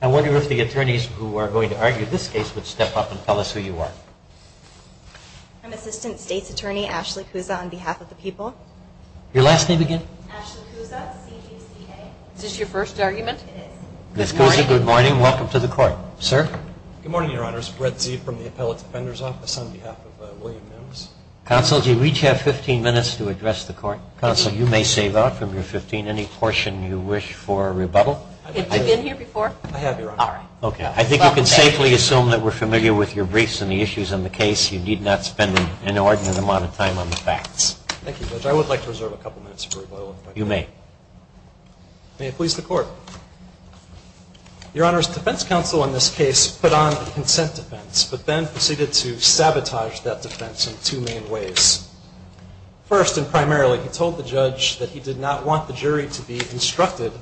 I wonder if the attorneys who are going to argue this case would step up and tell us who you are. I'm Assistant State's Attorney Ashley Cusa on behalf of the people. Your last name again? Ashley Cusa, C-G-C-A. Is this your first argument? It is. Ms. Cusa, good morning. Welcome to the court. Sir? Good morning, your honors. Brett Zee from the Appellate Defender's Office on behalf of William Mims. Counsel, do you each have 15 minutes to address the court? Counsel, you may save up from your 15 any portion you wish for a rebuttal. Have you been here before? I have, your honor. All right. Okay. I think you can safely assume that we're familiar with your briefs and the issues in the case. You need not spend an inordinate amount of time on the facts. Thank you, Judge. I would like to reserve a couple minutes for rebuttal, if I may. You may. May it please the court. Your honors, defense counsel in this case put on a consent defense, but then proceeded to sabotage that defense in two main ways. First and primarily, he told the judge that he did not want the jury to be instructed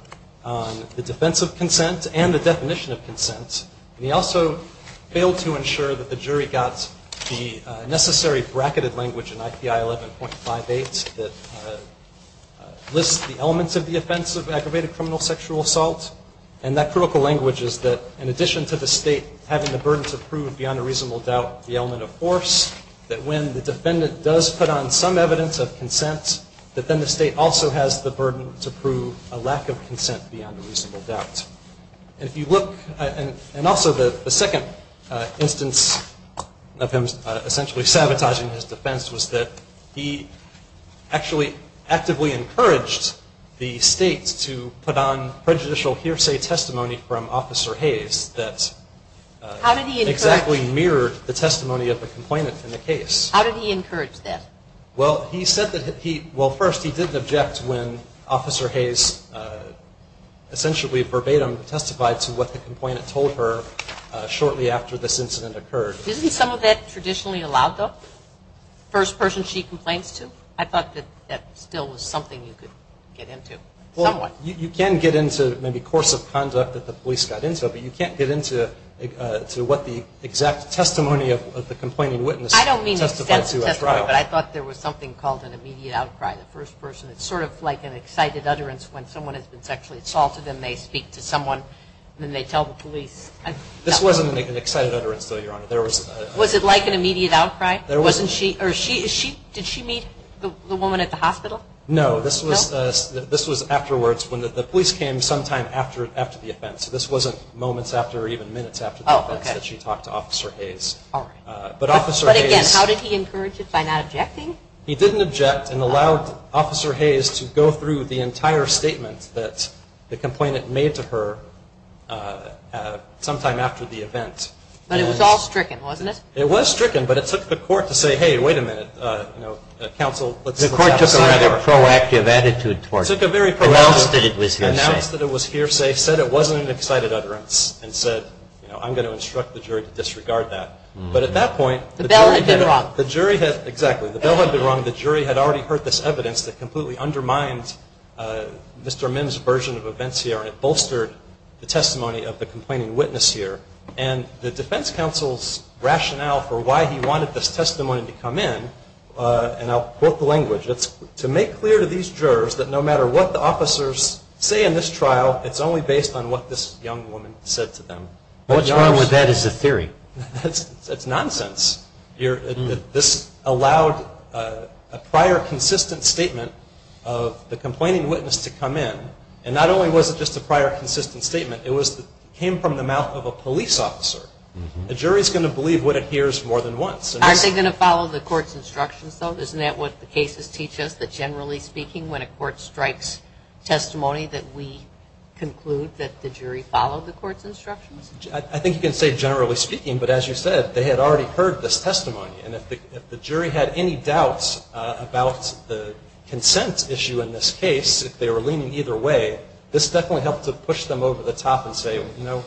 on the defense of consent and the definition of consent. And he also failed to ensure that the jury got the necessary bracketed language in IPI 11.58 that lists the elements of the offense of aggravated criminal sexual assault. And that critical language is that in addition to the state having the burden to prove beyond a reasonable doubt the element of force, that when the defendant does put on some evidence of consent, that then the state also has the burden to prove a lack of consent beyond a reasonable doubt. And if you look, and also the second instance of him essentially sabotaging his defense was that he actually actively encouraged the state to put on prejudicial hearsay testimony from Officer Hayes that exactly mirrored the testimony of the complainant in the case. How did he encourage that? Well, he said that he, well first he didn't object when Officer Hayes essentially verbatim testified to what the complainant told her shortly after this incident occurred. Isn't some of that traditionally allowed though? First person she complains to? I thought that that still was something you could get into somewhat. Well, you can get into maybe course of conduct that the police got into, but you can't get into what the exact testimony of the complaining witness testified to at trial. I don't mean extensive testimony, but I thought there was something called an immediate outcry. The first person it's sort of like an excited utterance when someone has been sexually assaulted and they speak to someone and then they tell the police. This wasn't an excited utterance though, Your Honor. Was it like an immediate outcry? Did she meet the woman at the hospital? No, this was afterwards when the police came sometime after the offense. This wasn't moments after or even minutes after the offense that she talked to Officer Hayes. But again, how did he encourage it by not objecting? He didn't object and allowed Officer Hayes to go through the entire statement that the complainant made to her sometime after the event. But it was all stricken, wasn't it? It was stricken, but it took the court to say, hey, wait a minute. It took a very promoted, announced that it was hearsay, said it wasn't an excited utterance and said, you know, I'm going to instruct the jury to disregard that. But at that point, the jury had already heard this evidence that completely undermined Mr. Mim's version of events here and it bolstered the testimony of the complaining witness here. And the defense counsel's rationale for why he wanted this testimony to come in, and I'll be clear to these jurors that no matter what the officers say in this trial, it's only based on what this young woman said to them. What's wrong with that is a theory. It's nonsense. This allowed a prior consistent statement of the complaining witness to come in and not only was it just a prior consistent statement, it came from the mouth of a police officer. The jury's going to believe what it hears more than once. Aren't they going to follow the court's instructions though? Isn't that what the cases teach us that generally speaking when a court strikes testimony that we conclude that the jury followed the court's instructions? I think you can say generally speaking, but as you said, they had already heard this testimony. And if the jury had any doubts about the consent issue in this case, if they were leaning either way, this definitely helped to push them over the top and say, you know,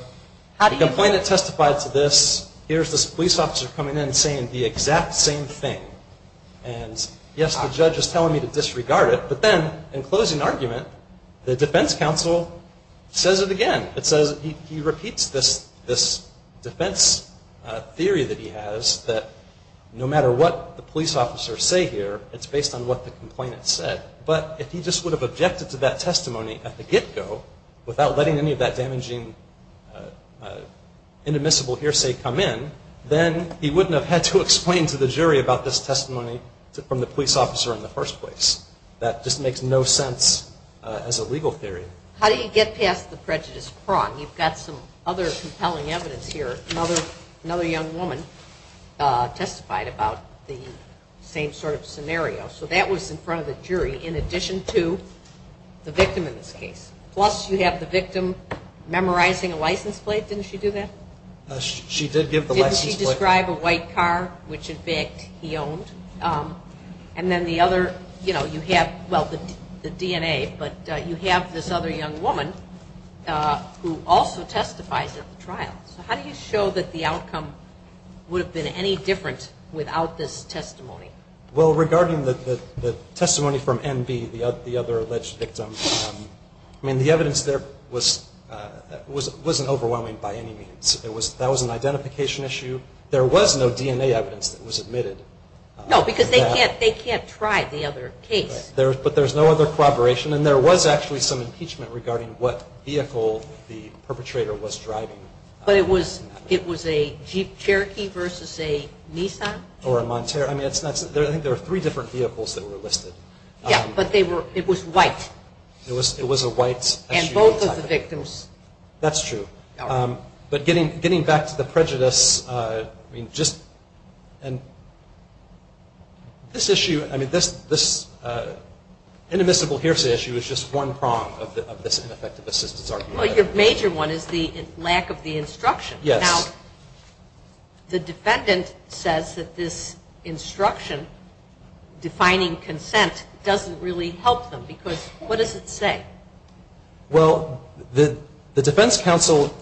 the complainant testified to this. Here's this police officer coming in and saying the exact same thing. And yes, the judge is telling me to disregard it, but then in closing argument, the defense counsel says it again. It says he repeats this defense theory that he has that no matter what the police officers say here, it's based on what the complainant said. But if he just would have objected to that testimony at the get-go without letting any of that damaging inadmissible hearsay come in, then he wouldn't have had to explain to the jury about this testimony from the police officer in the first place. That just makes no sense as a legal theory. How do you get past the prejudice prong? You've got some other compelling evidence here. Another young woman testified about the same sort of scenario. So that was in front of the jury in addition to the victim in this case. Plus, you have the victim memorizing a license plate. Didn't she do that? She did give the license plate. Didn't she describe a white car, which in fact he owned? And then the other, you know, you have, well, the DNA, but you have this other young woman who also testifies at the trial. So how do you show that the outcome would have been any different without this testimony? Well, regarding the testimony from N.B., the other alleged victim, I mean, the evidence there wasn't overwhelming by any means. That was an identification issue. There was no DNA evidence that was admitted. No, because they can't try the other case. But there's no other corroboration. And there was actually some impeachment regarding what vehicle the perpetrator was driving. But it was a Jeep Cherokee versus a Nissan? Or a Montero. I mean, I think there were three different vehicles that were listed. Yeah, but they were, it was white. It was a white SUV type of vehicle. And both of the victims. That's true. But getting back to the prejudice, I mean, just, and this issue, I mean, this inimitable hearsay issue is just one prong of this ineffective assistance argument. Well, your major one is the lack of the instruction. Yes. Now, the defendant says that this instruction, defining consent, doesn't really help them. Because what does it say? Well, the defense counsel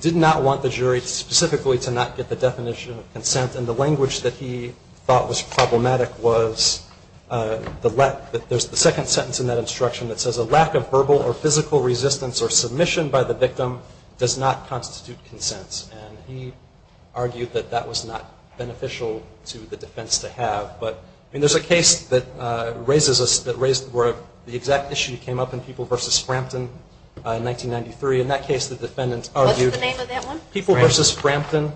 did not want the jury specifically to not get the definition of consent. And the language that he thought was problematic was the, there's the second sentence in that instruction that says, a lack of verbal or physical resistance or submission by the victim does not constitute consent. And he argued that that was not beneficial to the defense to have. But, I mean, there's a case that raises us, that raised, where the exact issue came up in People versus Frampton in 1993. In that case, the defendant argued What's the name of that one? People versus Frampton.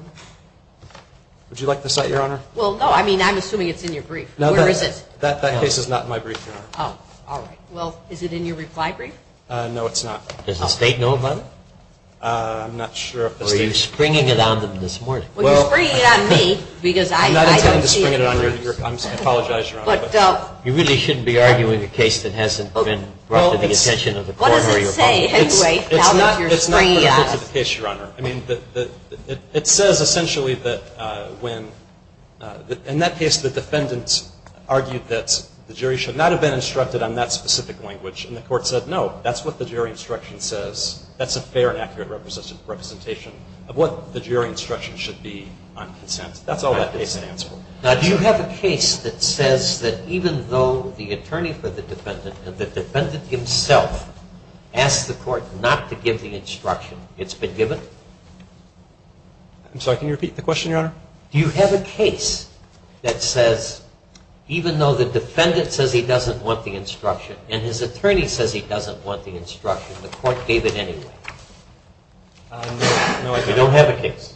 Would you like to cite, Your Honor? Well, no, I mean, I'm assuming it's in your brief. No, that case is not in my brief, Your Honor. Oh, all right. Well, is it in your reply brief? No, it's not. Does the State know about it? I'm not sure if the State knows about it. Or are you springing it on them this morning? Well, you're springing it on me because I don't see it in your briefs. I'm not intending to spring it on your, I apologize, Your Honor, but you really shouldn't be arguing a case that hasn't been brought to the attention of the coroner, Your Honor. What does it say, anyway, now that you're springing it on us? It's not for the purpose of the case, Your Honor. I mean, it says essentially that when, in that case, the defendant argued that the jury should not have been instructed on that instruction says, that's a fair and accurate representation of what the jury instruction should be on consent. That's all that case stands for. Now, do you have a case that says that even though the attorney for the defendant and the defendant himself asked the court not to give the instruction, it's been given? I'm sorry, can you repeat the question, Your Honor? Do you have a case that says, even though the defendant says he doesn't want the instruction and his attorney says he doesn't want the instruction, the court gave it anyway? No. You don't have a case?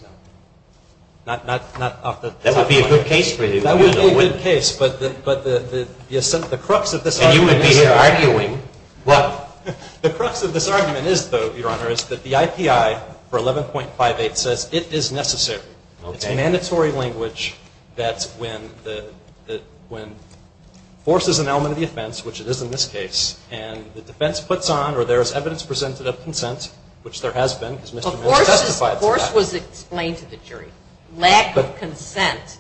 Not off the top of my head. That would be a good case for you. That would be a good case, but the crux of this argument is that the IPI for 11.58 says it is necessary. It's mandatory language that's when force is an element of the offense, which it is in this case, and the defense puts on or there is evidence presented of consent, which there has been, because Mr. Manning testified to that. Force was explained to the jury. Lack of consent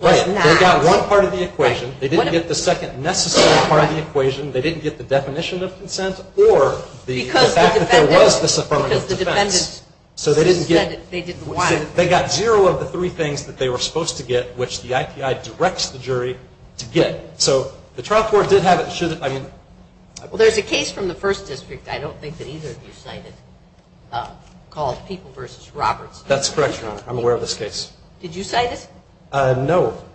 was not. They got one part of the equation. They didn't get the second necessary part of the equation. They didn't get the definition of consent or the fact that there was this affirmative defense. Because the defendant said it, they didn't want it. They got zero of the three things that they were supposed to get, which the IPI directs the jury to get. So the trial court did have it. There's a case from the first district I don't think that either of you cited called People v. Roberts. That's correct, Your Honor. I'm aware of this case. Did you cite it? No,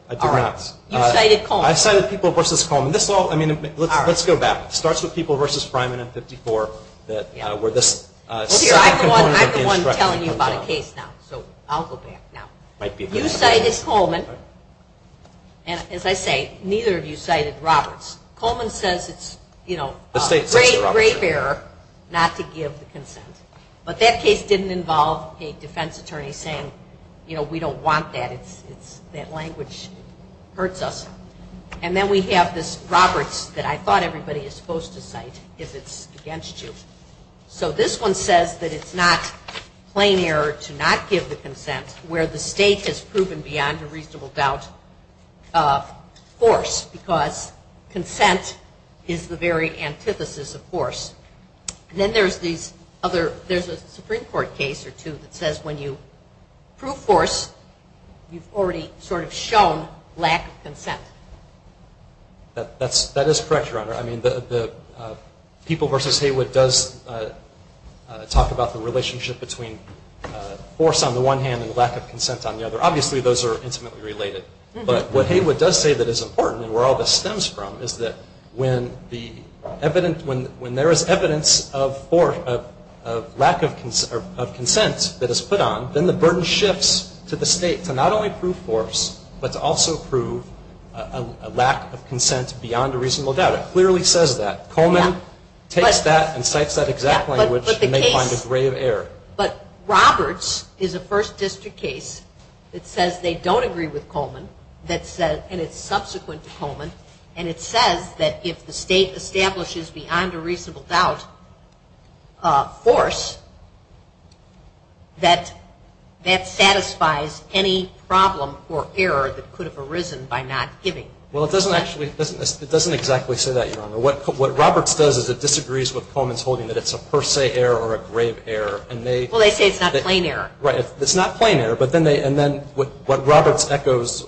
I did not. All right. You cited Coleman. I cited People v. Coleman. Let's go back. It starts with People v. Fryman in 54, where this second component of the instruction comes out. I'm the one telling you about a case now, so I'll go back now. You cited Coleman, and as I say, neither of you cited Roberts. Coleman says it's, you know, a great, great error not to give the consent. But that case didn't involve a defense attorney saying, you know, we don't want that. That language hurts us. And then we have this Roberts that I thought everybody is supposed to cite if it's against you. So this one says that it's not plain error to not give the consent where the state has proven beyond a reasonable doubt force, because consent is the very antithesis of force. And then there's these other, there's a Supreme Court case or two that says when you prove force, you've already sort of shown lack of consent. That is correct, Your Honor. I mean, the People v. Haywood does talk about the relationship between force on the one hand and lack of consent on the other. Obviously, those are intimately related. But what Haywood does say that is important and where all this stems from is that when the evidence, when there is evidence of force, of lack of consent that is put on, then the burden shifts to the state to not only prove force, but to also prove a lack of consent beyond a reasonable doubt. It clearly says that. Coleman takes that and cites that exact language and they find a grave error. But the case, but Roberts is a First District case that says they don't agree with Coleman that says, and it's subsequent to Coleman, and it says that if the state establishes beyond a reasonable doubt force, that that satisfies any problem or error that could have arisen by not giving. Well, it doesn't actually, it doesn't exactly say that, Your Honor. What Roberts does is it disagrees with Coleman's holding that it's a per se error or a grave error and they Well, they say it's not a plain error. Right. It's not a plain error, but then they, and then what Roberts echoes,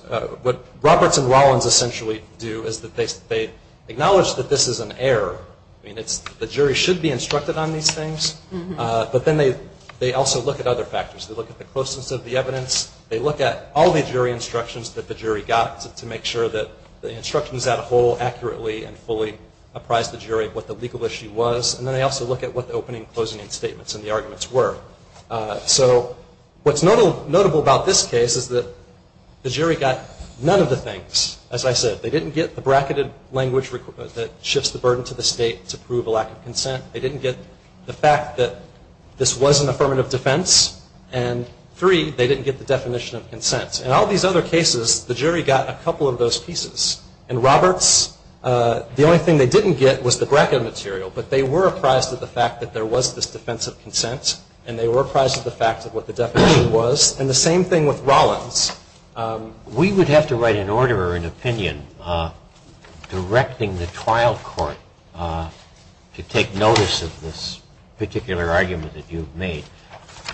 what Roberts and Rollins essentially do is that they acknowledge that this is an error. I mean, it's, the jury should be instructed on these things. But then they also look at other factors. They look at the closeness of the evidence. They look at all the jury instructions that the jury got to make sure that the instructions as a whole accurately and fully apprised the jury of what the legal issue was. And then they also look at what the opening and closing statements and the arguments were. So what's notable about this case is that the jury got none of the things. As I said, they didn't get the bracketed language that shifts the burden to the state to prove a lack of consent. They didn't get the fact that this was an affirmative defense. And three, they didn't get the definition of consent. In all these other cases, the jury got a couple of those pieces. And Roberts, the only thing they didn't get was the bracketed material. But they were apprised of the fact that there was this defense of consent and they were apprised of the fact of what the definition was. And the same thing with Rollins. We would have to write an order or an opinion directing the trial court to take notice of this particular argument that you've made.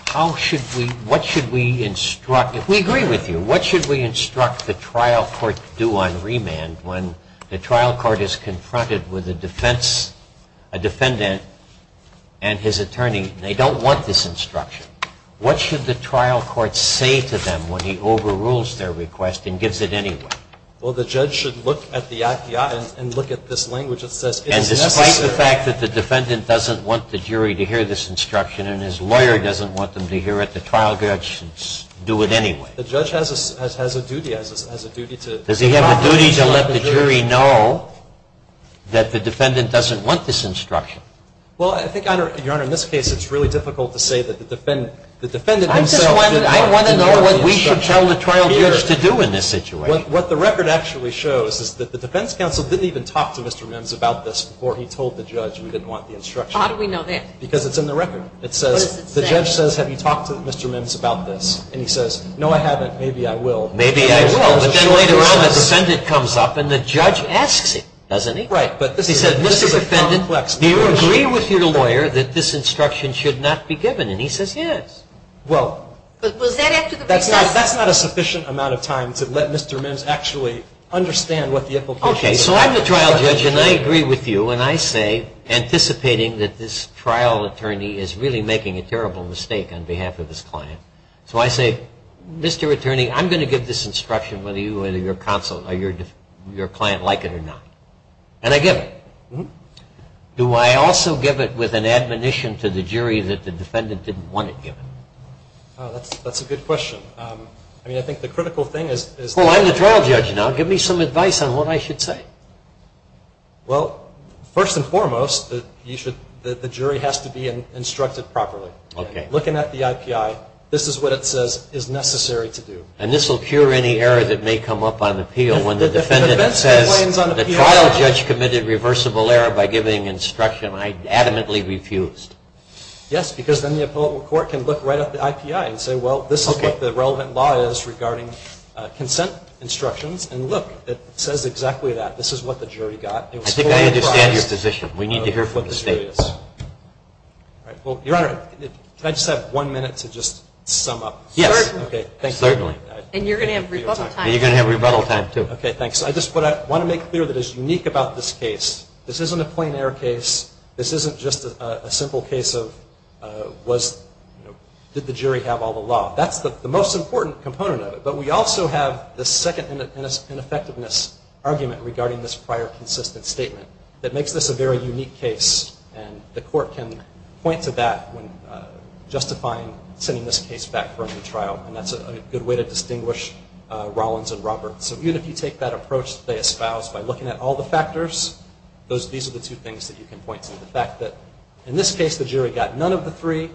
How should we, what should we instruct? We agree with you. What should we instruct the trial court to do on remand when the trial court is confronted with a defense, a defendant, and his attorney and they don't want this instruction? What should the trial court say to them when he overrules their request and gives it anyway? Well, the judge should look at the act and look at this language that says it is necessary. And despite the fact that the defendant doesn't want the jury to hear this instruction and his lawyer doesn't want them to hear it, the trial judge should do it anyway. The judge has a duty, has a duty to... Does he have a duty to let the jury know that the defendant doesn't want this instruction? Well, I think, Your Honor, in this case it's really difficult to say that the defendant himself didn't want the instruction. I just want to know what we should tell the trial judge to do in this situation. What the record actually shows is that the defense counsel didn't even talk to Mr. Mims about this before he told the judge he didn't want the instruction. How do we know that? Because it's in the record. What does it say? It says, the judge says, have you talked to Mr. Mims about this? And he says, no I haven't, maybe I will. Maybe I will. But then later on the defendant comes up and the judge asks him, doesn't he? Right. He says, Mr. Defendant, do you agree with your lawyer that this instruction should not be given? And he says, yes. Well... But was that after the process? That's not a sufficient amount of time to let Mr. Mims actually understand what the implications are. Okay. So I'm the trial judge and I agree with you and I say, anticipating that this trial attorney is really making a terrible mistake on behalf of his client. So I say, Mr. Attorney, I'm going to give this instruction whether your client like it or not. And I give it. Do I also give it with an admonition to the jury that the defendant didn't want it given? That's a good question. I mean, I think the critical thing is... Well, I'm the trial judge now. Give me some advice on what I should say. Well, first and foremost, the jury has to be instructed properly. Okay. Looking at the IPI, this is what it says is necessary to do. And this will cure any error that may come up on appeal when the defendant says... If the defense complains on appeal... The trial judge committed reversible error by giving instruction I adamantly refused. Yes, because then the appellate court can look right at the IPI and say, well, this is what the relevant law is regarding consent instructions. And look, it says exactly that. This is what the jury got. I think I understand your position. We need to hear from the state. All right. Well, Your Honor, can I just have one minute to just sum up? Yes. Certainly. And you're going to have rebuttal time. And you're going to have rebuttal time, too. Okay, thanks. I just want to make clear that is unique about this case. This isn't a plain error case. This isn't just a simple case of did the jury have all the law. That's the most important component of it. But we also have the second ineffectiveness argument regarding this prior consistent statement that makes this a very unique case. And the court can point to that when justifying sending this case back for a new trial. And that's a good way to distinguish Rollins and Roberts. So even if you take that approach that they espoused by looking at all the factors, these are the two things that you can point to. The fact that in this case, the jury got none of the three.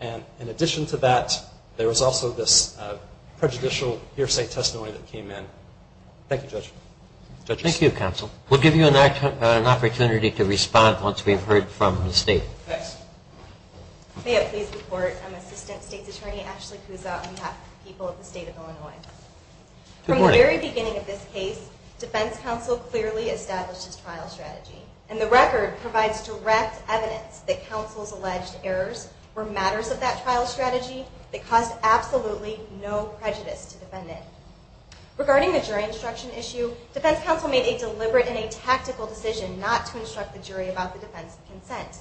And in addition to that, there was also this prejudicial hearsay testimony that came in. Thank you, Judge. Judges? Thank you, Counsel. We'll give you an opportunity to respond once we've heard from the State. Thanks. May I please report? I'm Assistant State's Attorney Ashley Kuzot, and we have the people of the State of Illinois. Good morning. From the very beginning of this case, Defense Counsel clearly established his trial strategy. And the record provides direct evidence that Counsel's alleged errors were matters of that trial strategy that caused absolutely no prejudice to the defendant. Regarding the jury instruction issue, Defense Counsel made a deliberate and a tactical decision not to instruct the jury about the defense of consent.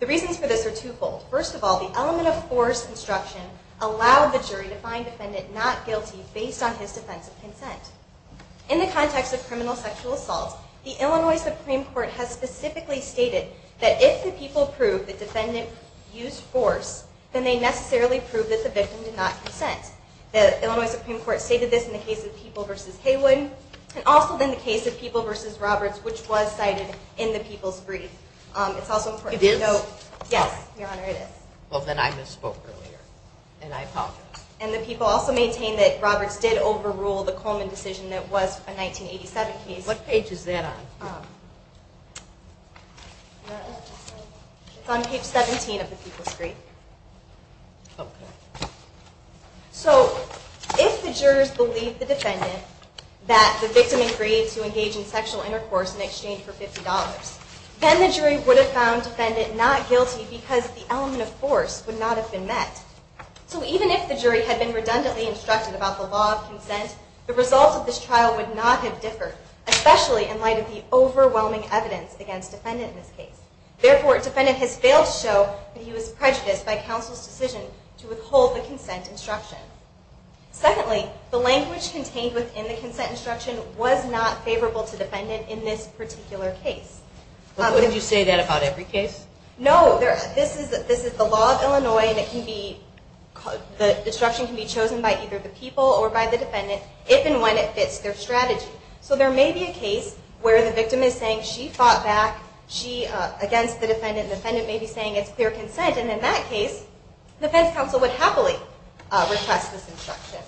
The reasons for this are twofold. First of all, the element of forced instruction allowed the jury to find the defendant not guilty based on his defense of consent. In the context of criminal sexual assault, the Illinois Supreme Court has specifically stated that if the people prove the defendant used force, then they necessarily prove that the victim did not consent. The Illinois Supreme Court stated this in the case of People v. Haywood, and also in the case of People v. Roberts, which was cited in the People's Brief. It's also important to note... It is? Yes, Your Honor, it is. Well, then I misspoke earlier, and I apologize. And the people also maintain that Roberts did overrule the Coleman decision that was a 1987 case. What page is that on? It's on page 17 of the People's Brief. So, if the jurors believe the defendant, that the victim agreed to engage in sexual intercourse in exchange for $50, then the jury would have found the defendant not guilty because the element of force would not have been met. So, even if the jury had been redundantly instructed about the law of consent, the results of this trial would not have differed, especially in light of the overwhelming evidence against the defendant in this case. Therefore, the defendant has failed to show that he was prejudiced by counsel's decision to withhold the consent instruction. Secondly, the language contained within the consent instruction was not favorable to the defendant in this particular case. But wouldn't you say that about every case? No. This is the law of Illinois, and the instruction can be chosen by either the people or by the defendant, if and when it fits their strategy. So, there may be a case where the victim is saying she fought back against the defendant, and the defendant may be saying it's clear consent. And in that case, defense counsel would happily request this instruction.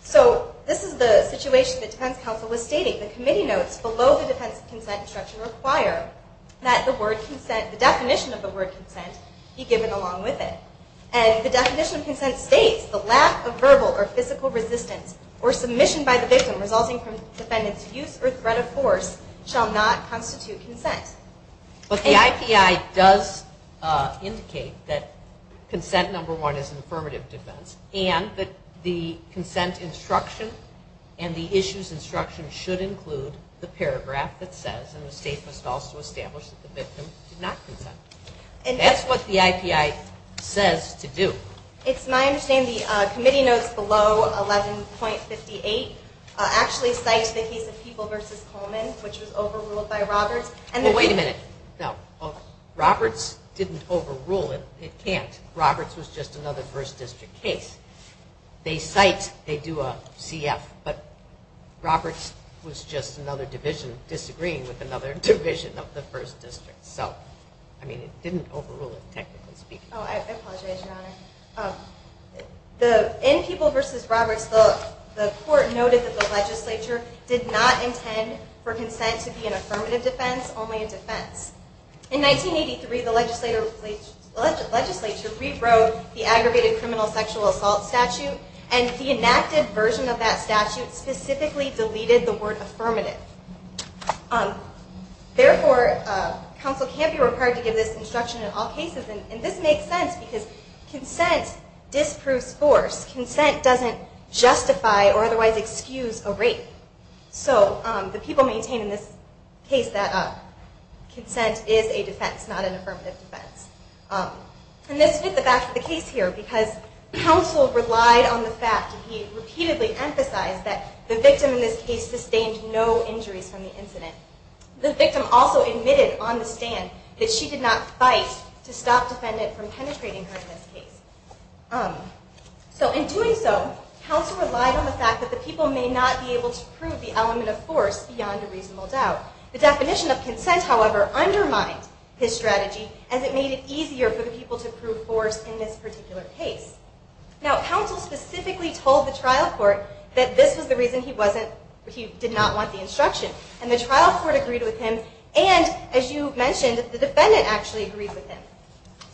So, this is the situation that defense counsel was stating. The committee notes below the defense consent instruction require that the definition of the word consent be given along with it. And the definition of consent states, the lack of verbal or physical resistance or submission by the victim resulting from the defendant's use or threat of force shall not constitute consent. But the IPI does indicate that consent, number one, is an affirmative defense, and that the consent instruction and the issues instruction should include the paragraph that says, and the state must also establish, that the victim did not consent. And that's what the IPI says to do. It's my understanding the committee notes below 11.58 actually cite the case of People v. Coleman, which was overruled by Roberts. Well, wait a minute. No. Roberts didn't overrule it. It can't. Roberts was just another 1st District case. They cite, they do a CF, but Roberts was just another division disagreeing with another division of the 1st District. So, I mean, it didn't overrule it, technically speaking. Oh, I apologize, Your Honor. In People v. Roberts, the court noted that the legislature did not intend for consent to be an affirmative defense, only a defense. In 1983, the legislature rewrote the aggregated criminal sexual assault statute, and the enacted version of that statute specifically deleted the word affirmative. Therefore, counsel can't be required to give this instruction in all cases. And this makes sense, because consent disproves force. Consent doesn't justify or otherwise excuse a rape. So the people maintain in this case that consent is a defense, not an affirmative defense. And this fits the back of the case here, because counsel relied on the fact that he repeatedly emphasized that the victim in this case sustained no injuries from the incident. The victim also admitted on the stand that she did not fight to stop the defendant from penetrating her in this case. So in doing so, counsel relied on the fact that the people may not be able to prove the element of force beyond a reasonable doubt. The definition of consent, however, undermined his strategy, as it made it easier for the people to prove force in this particular case. Now, counsel specifically told the trial court that this was the reason he did not want the instruction. And the trial court agreed with him, and, as you mentioned, the defendant actually agreed with him,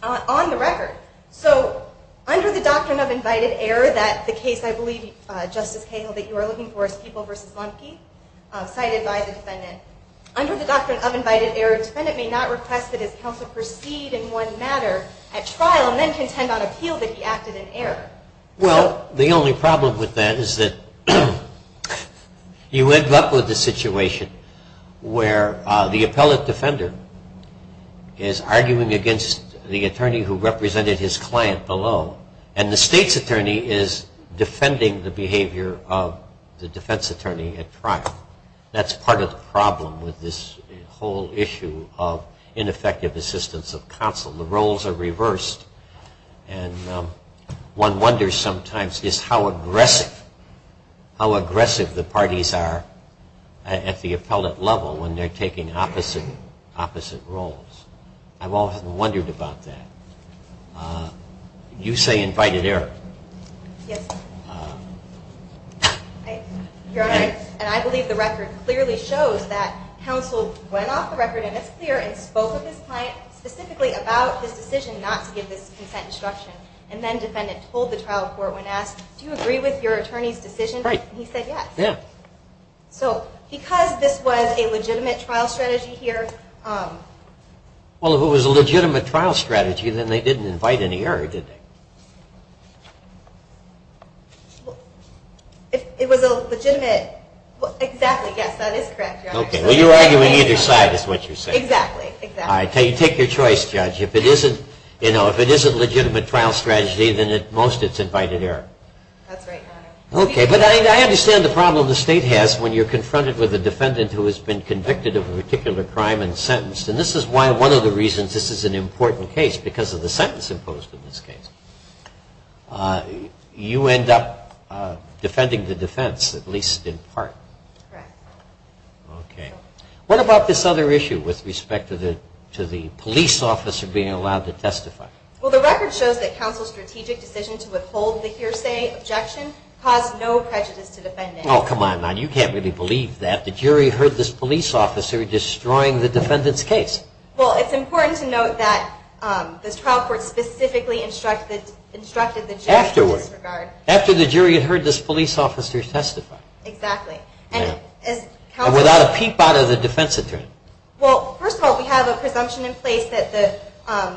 on the record. So under the doctrine of invited error that the case, I believe, Justice Cahill, that you are looking for is People v. Monkey, cited by the defendant. Under the doctrine of invited error, a defendant may not request that his counsel proceed in one matter at trial and then contend on appeal that he acted in error. Well, the only problem with that is that you end up with a situation where the appellate defender is arguing against the attorney who represented his client below, and the state's attorney is defending the behavior of the defense attorney at trial. That's part of the problem with this whole issue of ineffective assistance of counsel. The roles are reversed, and one wonders sometimes just how aggressive, how aggressive the parties are at the appellate level when they're taking opposite roles. I've often wondered about that. You say invited error. Yes. Your Honor, and I believe the record clearly shows that counsel went off the record, and it's clear, and spoke with his client specifically about this decision not to give this consent instruction. And then the defendant told the trial court when asked, do you agree with your attorney's decision? He said yes. So, because this was a legitimate trial strategy here... Well, if it was a legitimate trial strategy, then they didn't invite any error, did they? It was a legitimate... Exactly, yes, that is correct, Your Honor. Okay, well, you're arguing either side is what you're saying. Exactly, exactly. Take your choice, Judge. If it is a legitimate trial strategy, then at most it's invited error. That's right, Your Honor. Okay, but I understand the problem the State has when you're confronted with a defendant who has been convicted of a particular crime and sentenced. And this is why one of the reasons this is an important case, because of the sentence imposed in this case. You end up defending the defense, at least in part. Correct. Okay. What about this other issue with respect to the police officer being allowed to testify? Well, the record shows that counsel's strategic decision to withhold the hearsay objection caused no prejudice to the defendant. Oh, come on now, you can't really believe that. The jury heard this police officer destroying the defendant's case. Well, it's important to note that this trial court specifically instructed the jury... Afterwards, after the jury had heard this police officer testify. Exactly. And without a peep out of the defense attorney. Well, first of all, we have a presumption in place that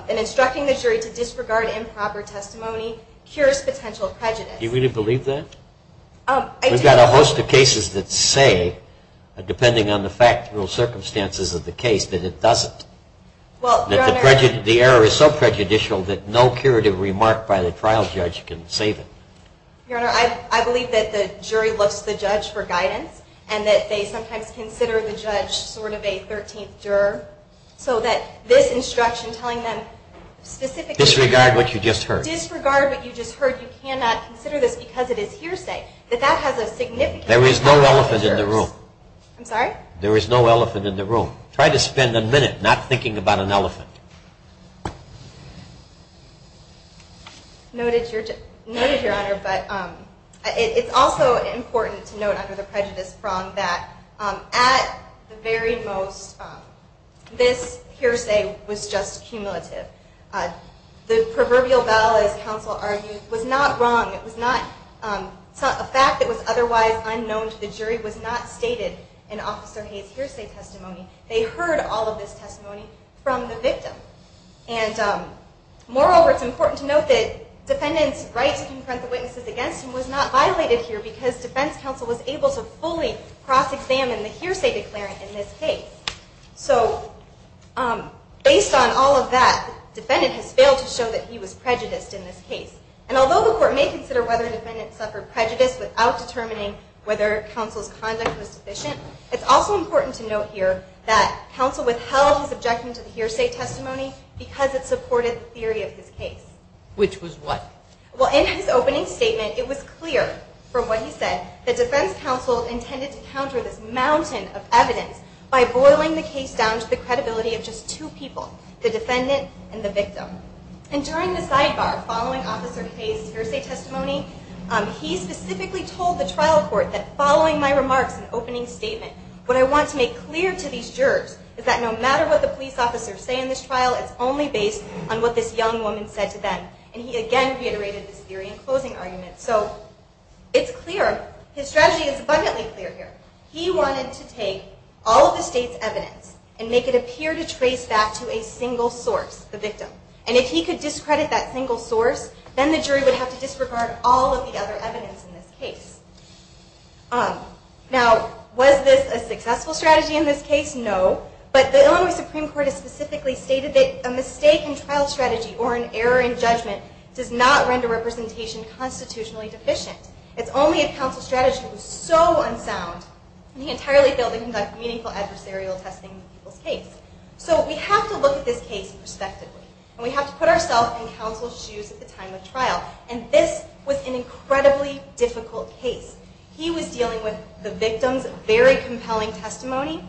instructing the jury to disregard improper testimony cures potential prejudice. Do you really believe that? I do. We've got a host of cases that say, depending on the factual circumstances of the case, that it doesn't. Well, Your Honor... That the error is so prejudicial that no curative remark by the trial judge can save it. Your Honor, I believe that the jury looks to the judge for guidance and that they sometimes consider the judge sort of a 13th juror. So that this instruction telling them specifically... Disregard what you just heard. Disregard what you just heard. You cannot consider this because it is hearsay. That that has a significant... There is no elephant in the room. I'm sorry? There is no elephant in the room. Try to spend a minute not thinking about an elephant. Noted, Your Honor, but it's also important to note under the prejudice prong that at the very most, this hearsay was just cumulative. The proverbial bell, as counsel argued, was not wrong. It was not... A fact that was otherwise unknown to the jury was not stated in Officer Hayes' hearsay testimony. They heard all of this testimony from the victim. And moreover, it's important to note that defendant's right to confront the witnesses against him was not violated here because defense counsel was able to fully cross-examine the hearsay declarant in this case. So based on all of that, defendant has failed to show that he was prejudiced in this case. And although the court may consider whether defendant suffered prejudice without determining whether counsel's conduct was sufficient, it's also important to note here that counsel withheld his objection to the hearsay testimony because it supported the theory of his case. Which was what? Well, in his opening statement, it was clear from what he said that defense counsel intended to counter this mountain of evidence by boiling the case down to the credibility of just two people, the defendant and the victim. And during the sidebar, following Officer Hayes' hearsay testimony, he specifically told the trial court that, following my remarks and opening statement, what I want to make clear to these jurors is that no matter what the police officers say in this trial, it's only based on what this young woman said to them. And he again reiterated this theory in closing argument. So it's clear. His strategy is abundantly clear here. He wanted to take all of the state's evidence and make it appear to trace back to a single source, the victim. And if he could discredit that single source, then the jury would have to disregard all of the other evidence in this case. Now, was this a successful strategy in this case? No. But the Illinois Supreme Court has specifically stated that a mistake in trial strategy or an error in judgment does not render representation constitutionally deficient. It's only if counsel's strategy was so unsound that he entirely failed to conduct meaningful adversarial testing in the people's case. So we have to look at this case prospectively. And we have to put ourselves in counsel's shoes at the time of trial. And this was an incredibly difficult case. He was dealing with the victim's very compelling testimony.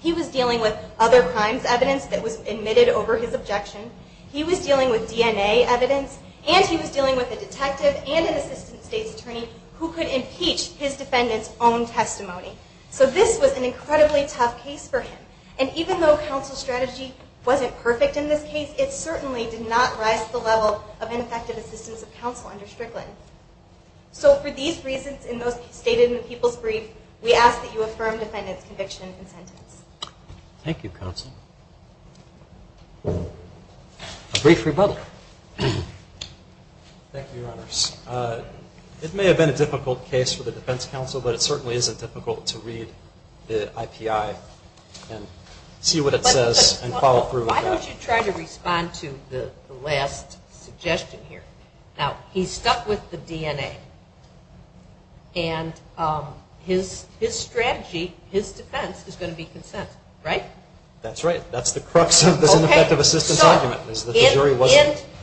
He was dealing with other crimes evidence that was admitted over his objection. He was dealing with DNA evidence. And he was dealing with a detective and an assistant state's attorney who could impeach his defendant's own testimony. So this was an incredibly tough case for him. And even though counsel's strategy wasn't perfect in this case, it certainly did not rise to the level of ineffective assistance of counsel under Strickland. So for these reasons stated in the people's brief, we ask that you affirm defendant's conviction and sentence. Thank you, counsel. A brief rebuttal. Thank you, Your Honors. It may have been a difficult case for the defense counsel, but it certainly isn't difficult to read the IPI and see what it says and follow through with that. Why don't you try to respond to the last suggestion here? Now, he's stuck with the DNA. And his strategy, his defense is going to be consent. Right? That's right. That's the crux of this ineffective assistance argument.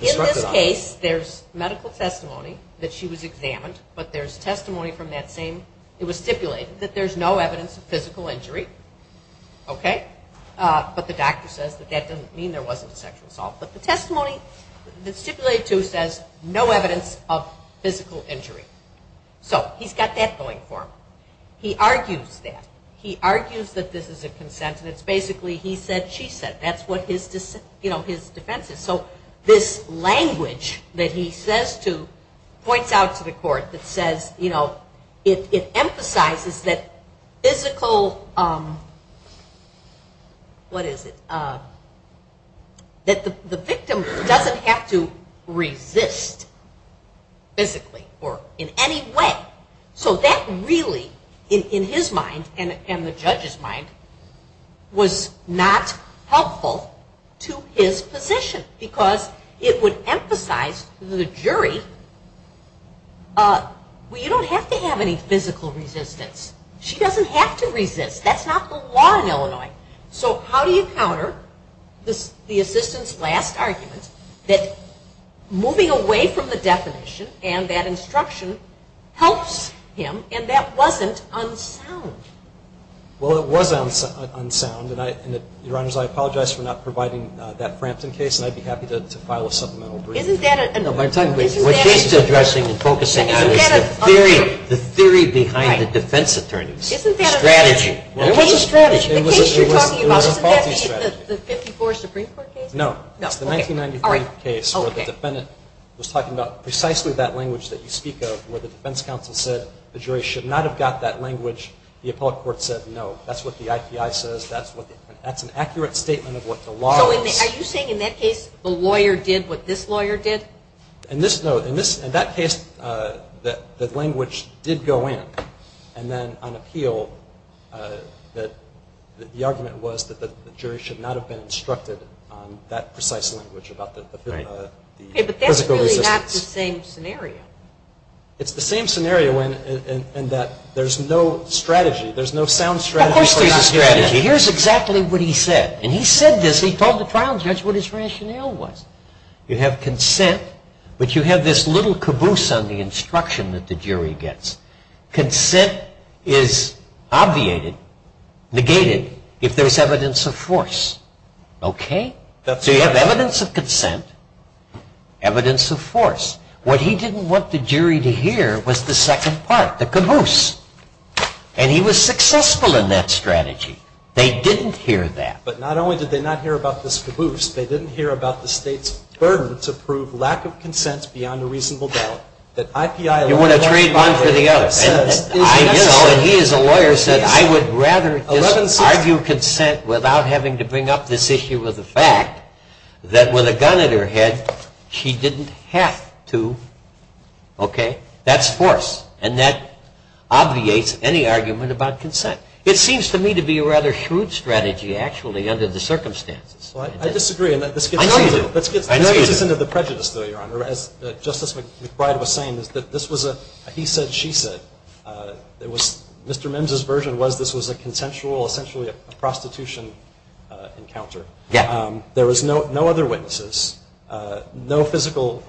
In this case, there's medical testimony that she was examined, but there's testimony from that same... It was stipulated that there's no evidence of physical injury. Okay? But the doctor says that that doesn't mean there wasn't a sexual assault. But the testimony that's stipulated too says no evidence of physical injury. So he's got that going for him. He argues that. He argues that this is a consent. And it's basically he said, she said. That's what his defense is. So this language that he says to points out to the court that says it emphasizes that physical... What is it? That the victim doesn't have to resist physically or in any way. So that really, in his mind, and the judge's mind, was not helpful to his position. Because it would emphasize to the jury, well, you don't have to have any physical resistance. She doesn't have to resist. That's not the law in Illinois. So how do you counter the assistant's last argument that moving away from the definition and that instruction helps him and that wasn't unsound? Well, it was unsound. And, Your Honors, I apologize for not providing that Frampton case and I'd be happy to file a supplemental brief. What she's addressing and focusing on is the theory behind the defense attorney's strategy. The case you're talking about, isn't that the 54 Supreme Court case? No, it's the 1993 case where the defendant was talking about precisely that language that you speak of where the defense counsel said the jury should not have got that language. The appellate court said no. That's what the IPI says. That's an accurate statement of what the law is. So are you saying in that case the lawyer did what this lawyer did? No. In that case the language did go in and then on appeal the argument was that the jury should not have been instructed on that precise language about the physical resistance. But that's really not the same scenario. It's the same scenario in that there's no sound strategy. Of course there's a strategy. Here's exactly what he said. He told the trial judge what his rationale was. You have consent, but you have this little caboose on the instruction that the jury gets. Consent is obviated, negated, if there's evidence of force. So you have evidence of consent, evidence of force. What he didn't want the jury to hear was the second part, the caboose. And he was successful in that strategy. They didn't hear that. But not only did they not hear about this caboose, they didn't hear about the state's burden to prove lack of consent beyond a reasonable doubt. You want to trade one for the other. He as a lawyer said I would rather just argue consent without having to bring up this issue with the fact that with a gun in her head she didn't have to. That's force. And that obviates any argument about consent. It seems to me to be a rather shrewd strategy actually under the circumstances. I disagree. I know you do. As Justice McBride was saying, this was a he said, she said. Mr. Mims's version was this was a consensual, essentially a prostitution encounter. There was no other witnesses. No physical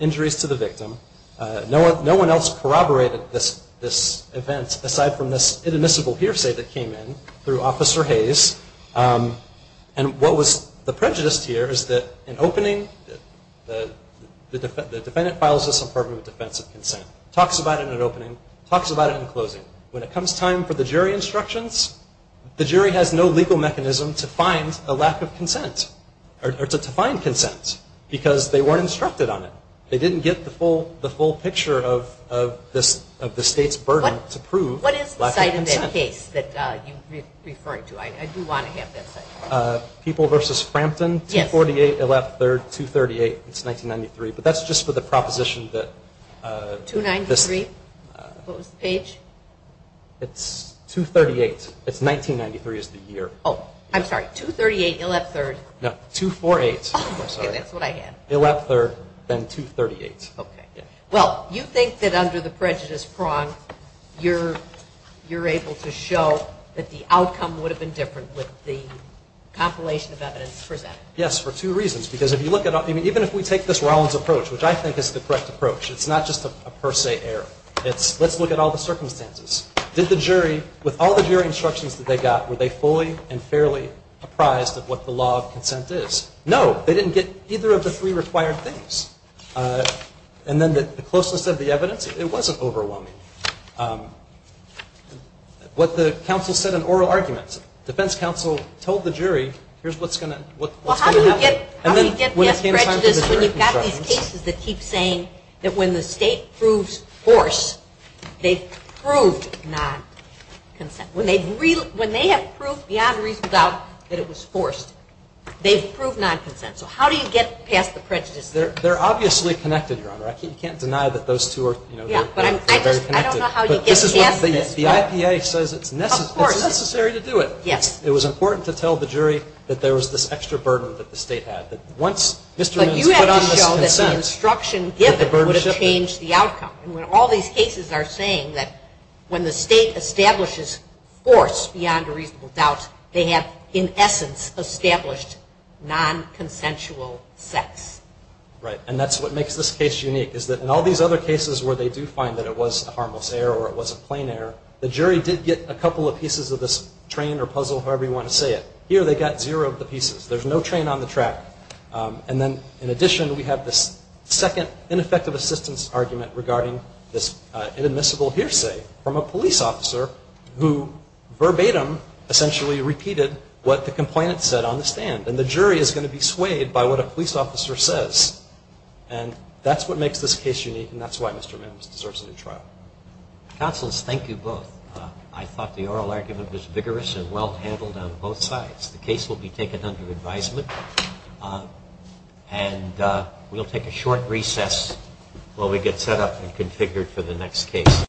injuries to the victim. No one else corroborated this event aside from this inadmissible hearsay that came in through Officer Hayes. And what was the prejudice here is that in opening the defendant files this apartment with defensive consent. Talks about it in an opening. Talks about it in a closing. When it comes time for the jury instructions, the jury has no legal mechanism to find a lack of consent or to find consent because they weren't instructed on it. They didn't get the full picture of the state's burden to prove lack of consent. What is the site in that case that you're referring to? I do want to have that site. People versus Frampton, 248, 238. It's 1993. But that's just for the proposition that... 293? What was the page? It's 238. It's 1993 is the year. Oh, I'm sorry. 238, you'll have 3rd. No, 248. Okay, that's what I had. You'll have 3rd, then 238. Well, you think that under the prejudice prong you're able to show that the outcome would have been different with the compilation of evidence presented? Yes, for two reasons. Because even if we take this Rollins approach, which I think is the correct approach, it's not just a per se error. It's let's look at all the circumstances. Did the jury, with all the jury instructions that they got, were they fully and fairly apprised of what the law of consent is? No, they didn't get either of the three required things. And then the closeness of the evidence, it wasn't overwhelming. What the counsel said in oral arguments, defense counsel told the jury, here's what's going to happen. How do you get past prejudice when you've got these cases that keep saying that when the state proves force, they've proved non-consent? When they have proved beyond a reasonable doubt that it was forced, they've proved non-consent. So how do you get past the prejudice? They're obviously connected, Your Honor. I can't deny that those two are very connected. I don't know how you get past this. But the IPA says it's necessary to do it. It was important to tell the jury that there was this extra burden that the state had. But you have to show that the instruction given would have changed the outcome. And when all these cases are saying that when the state establishes force beyond a reasonable doubt, they have, in essence, established non-consensual sex. Right. And that's what makes this case unique, is that in all these other cases where they do find that it was a harmless error or it was a plain error, the jury did get a couple of pieces of this train or puzzle, however you want to say it. Here they got zero of the pieces. There's no train on the track. And then, in addition, we have this second ineffective assistance argument regarding this inadmissible hearsay from a police officer who verbatim essentially repeated what the complainant said on the stand. And the jury is going to be swayed by what a police officer says. And that's what makes this case unique, and that's why Mr. Mims deserves a new trial. Counselors, thank you both. I thought the oral argument was vigorous and well-handled on both sides. The case will be taken under advisement, and we'll take a short recess while we get set up and configured for the next case.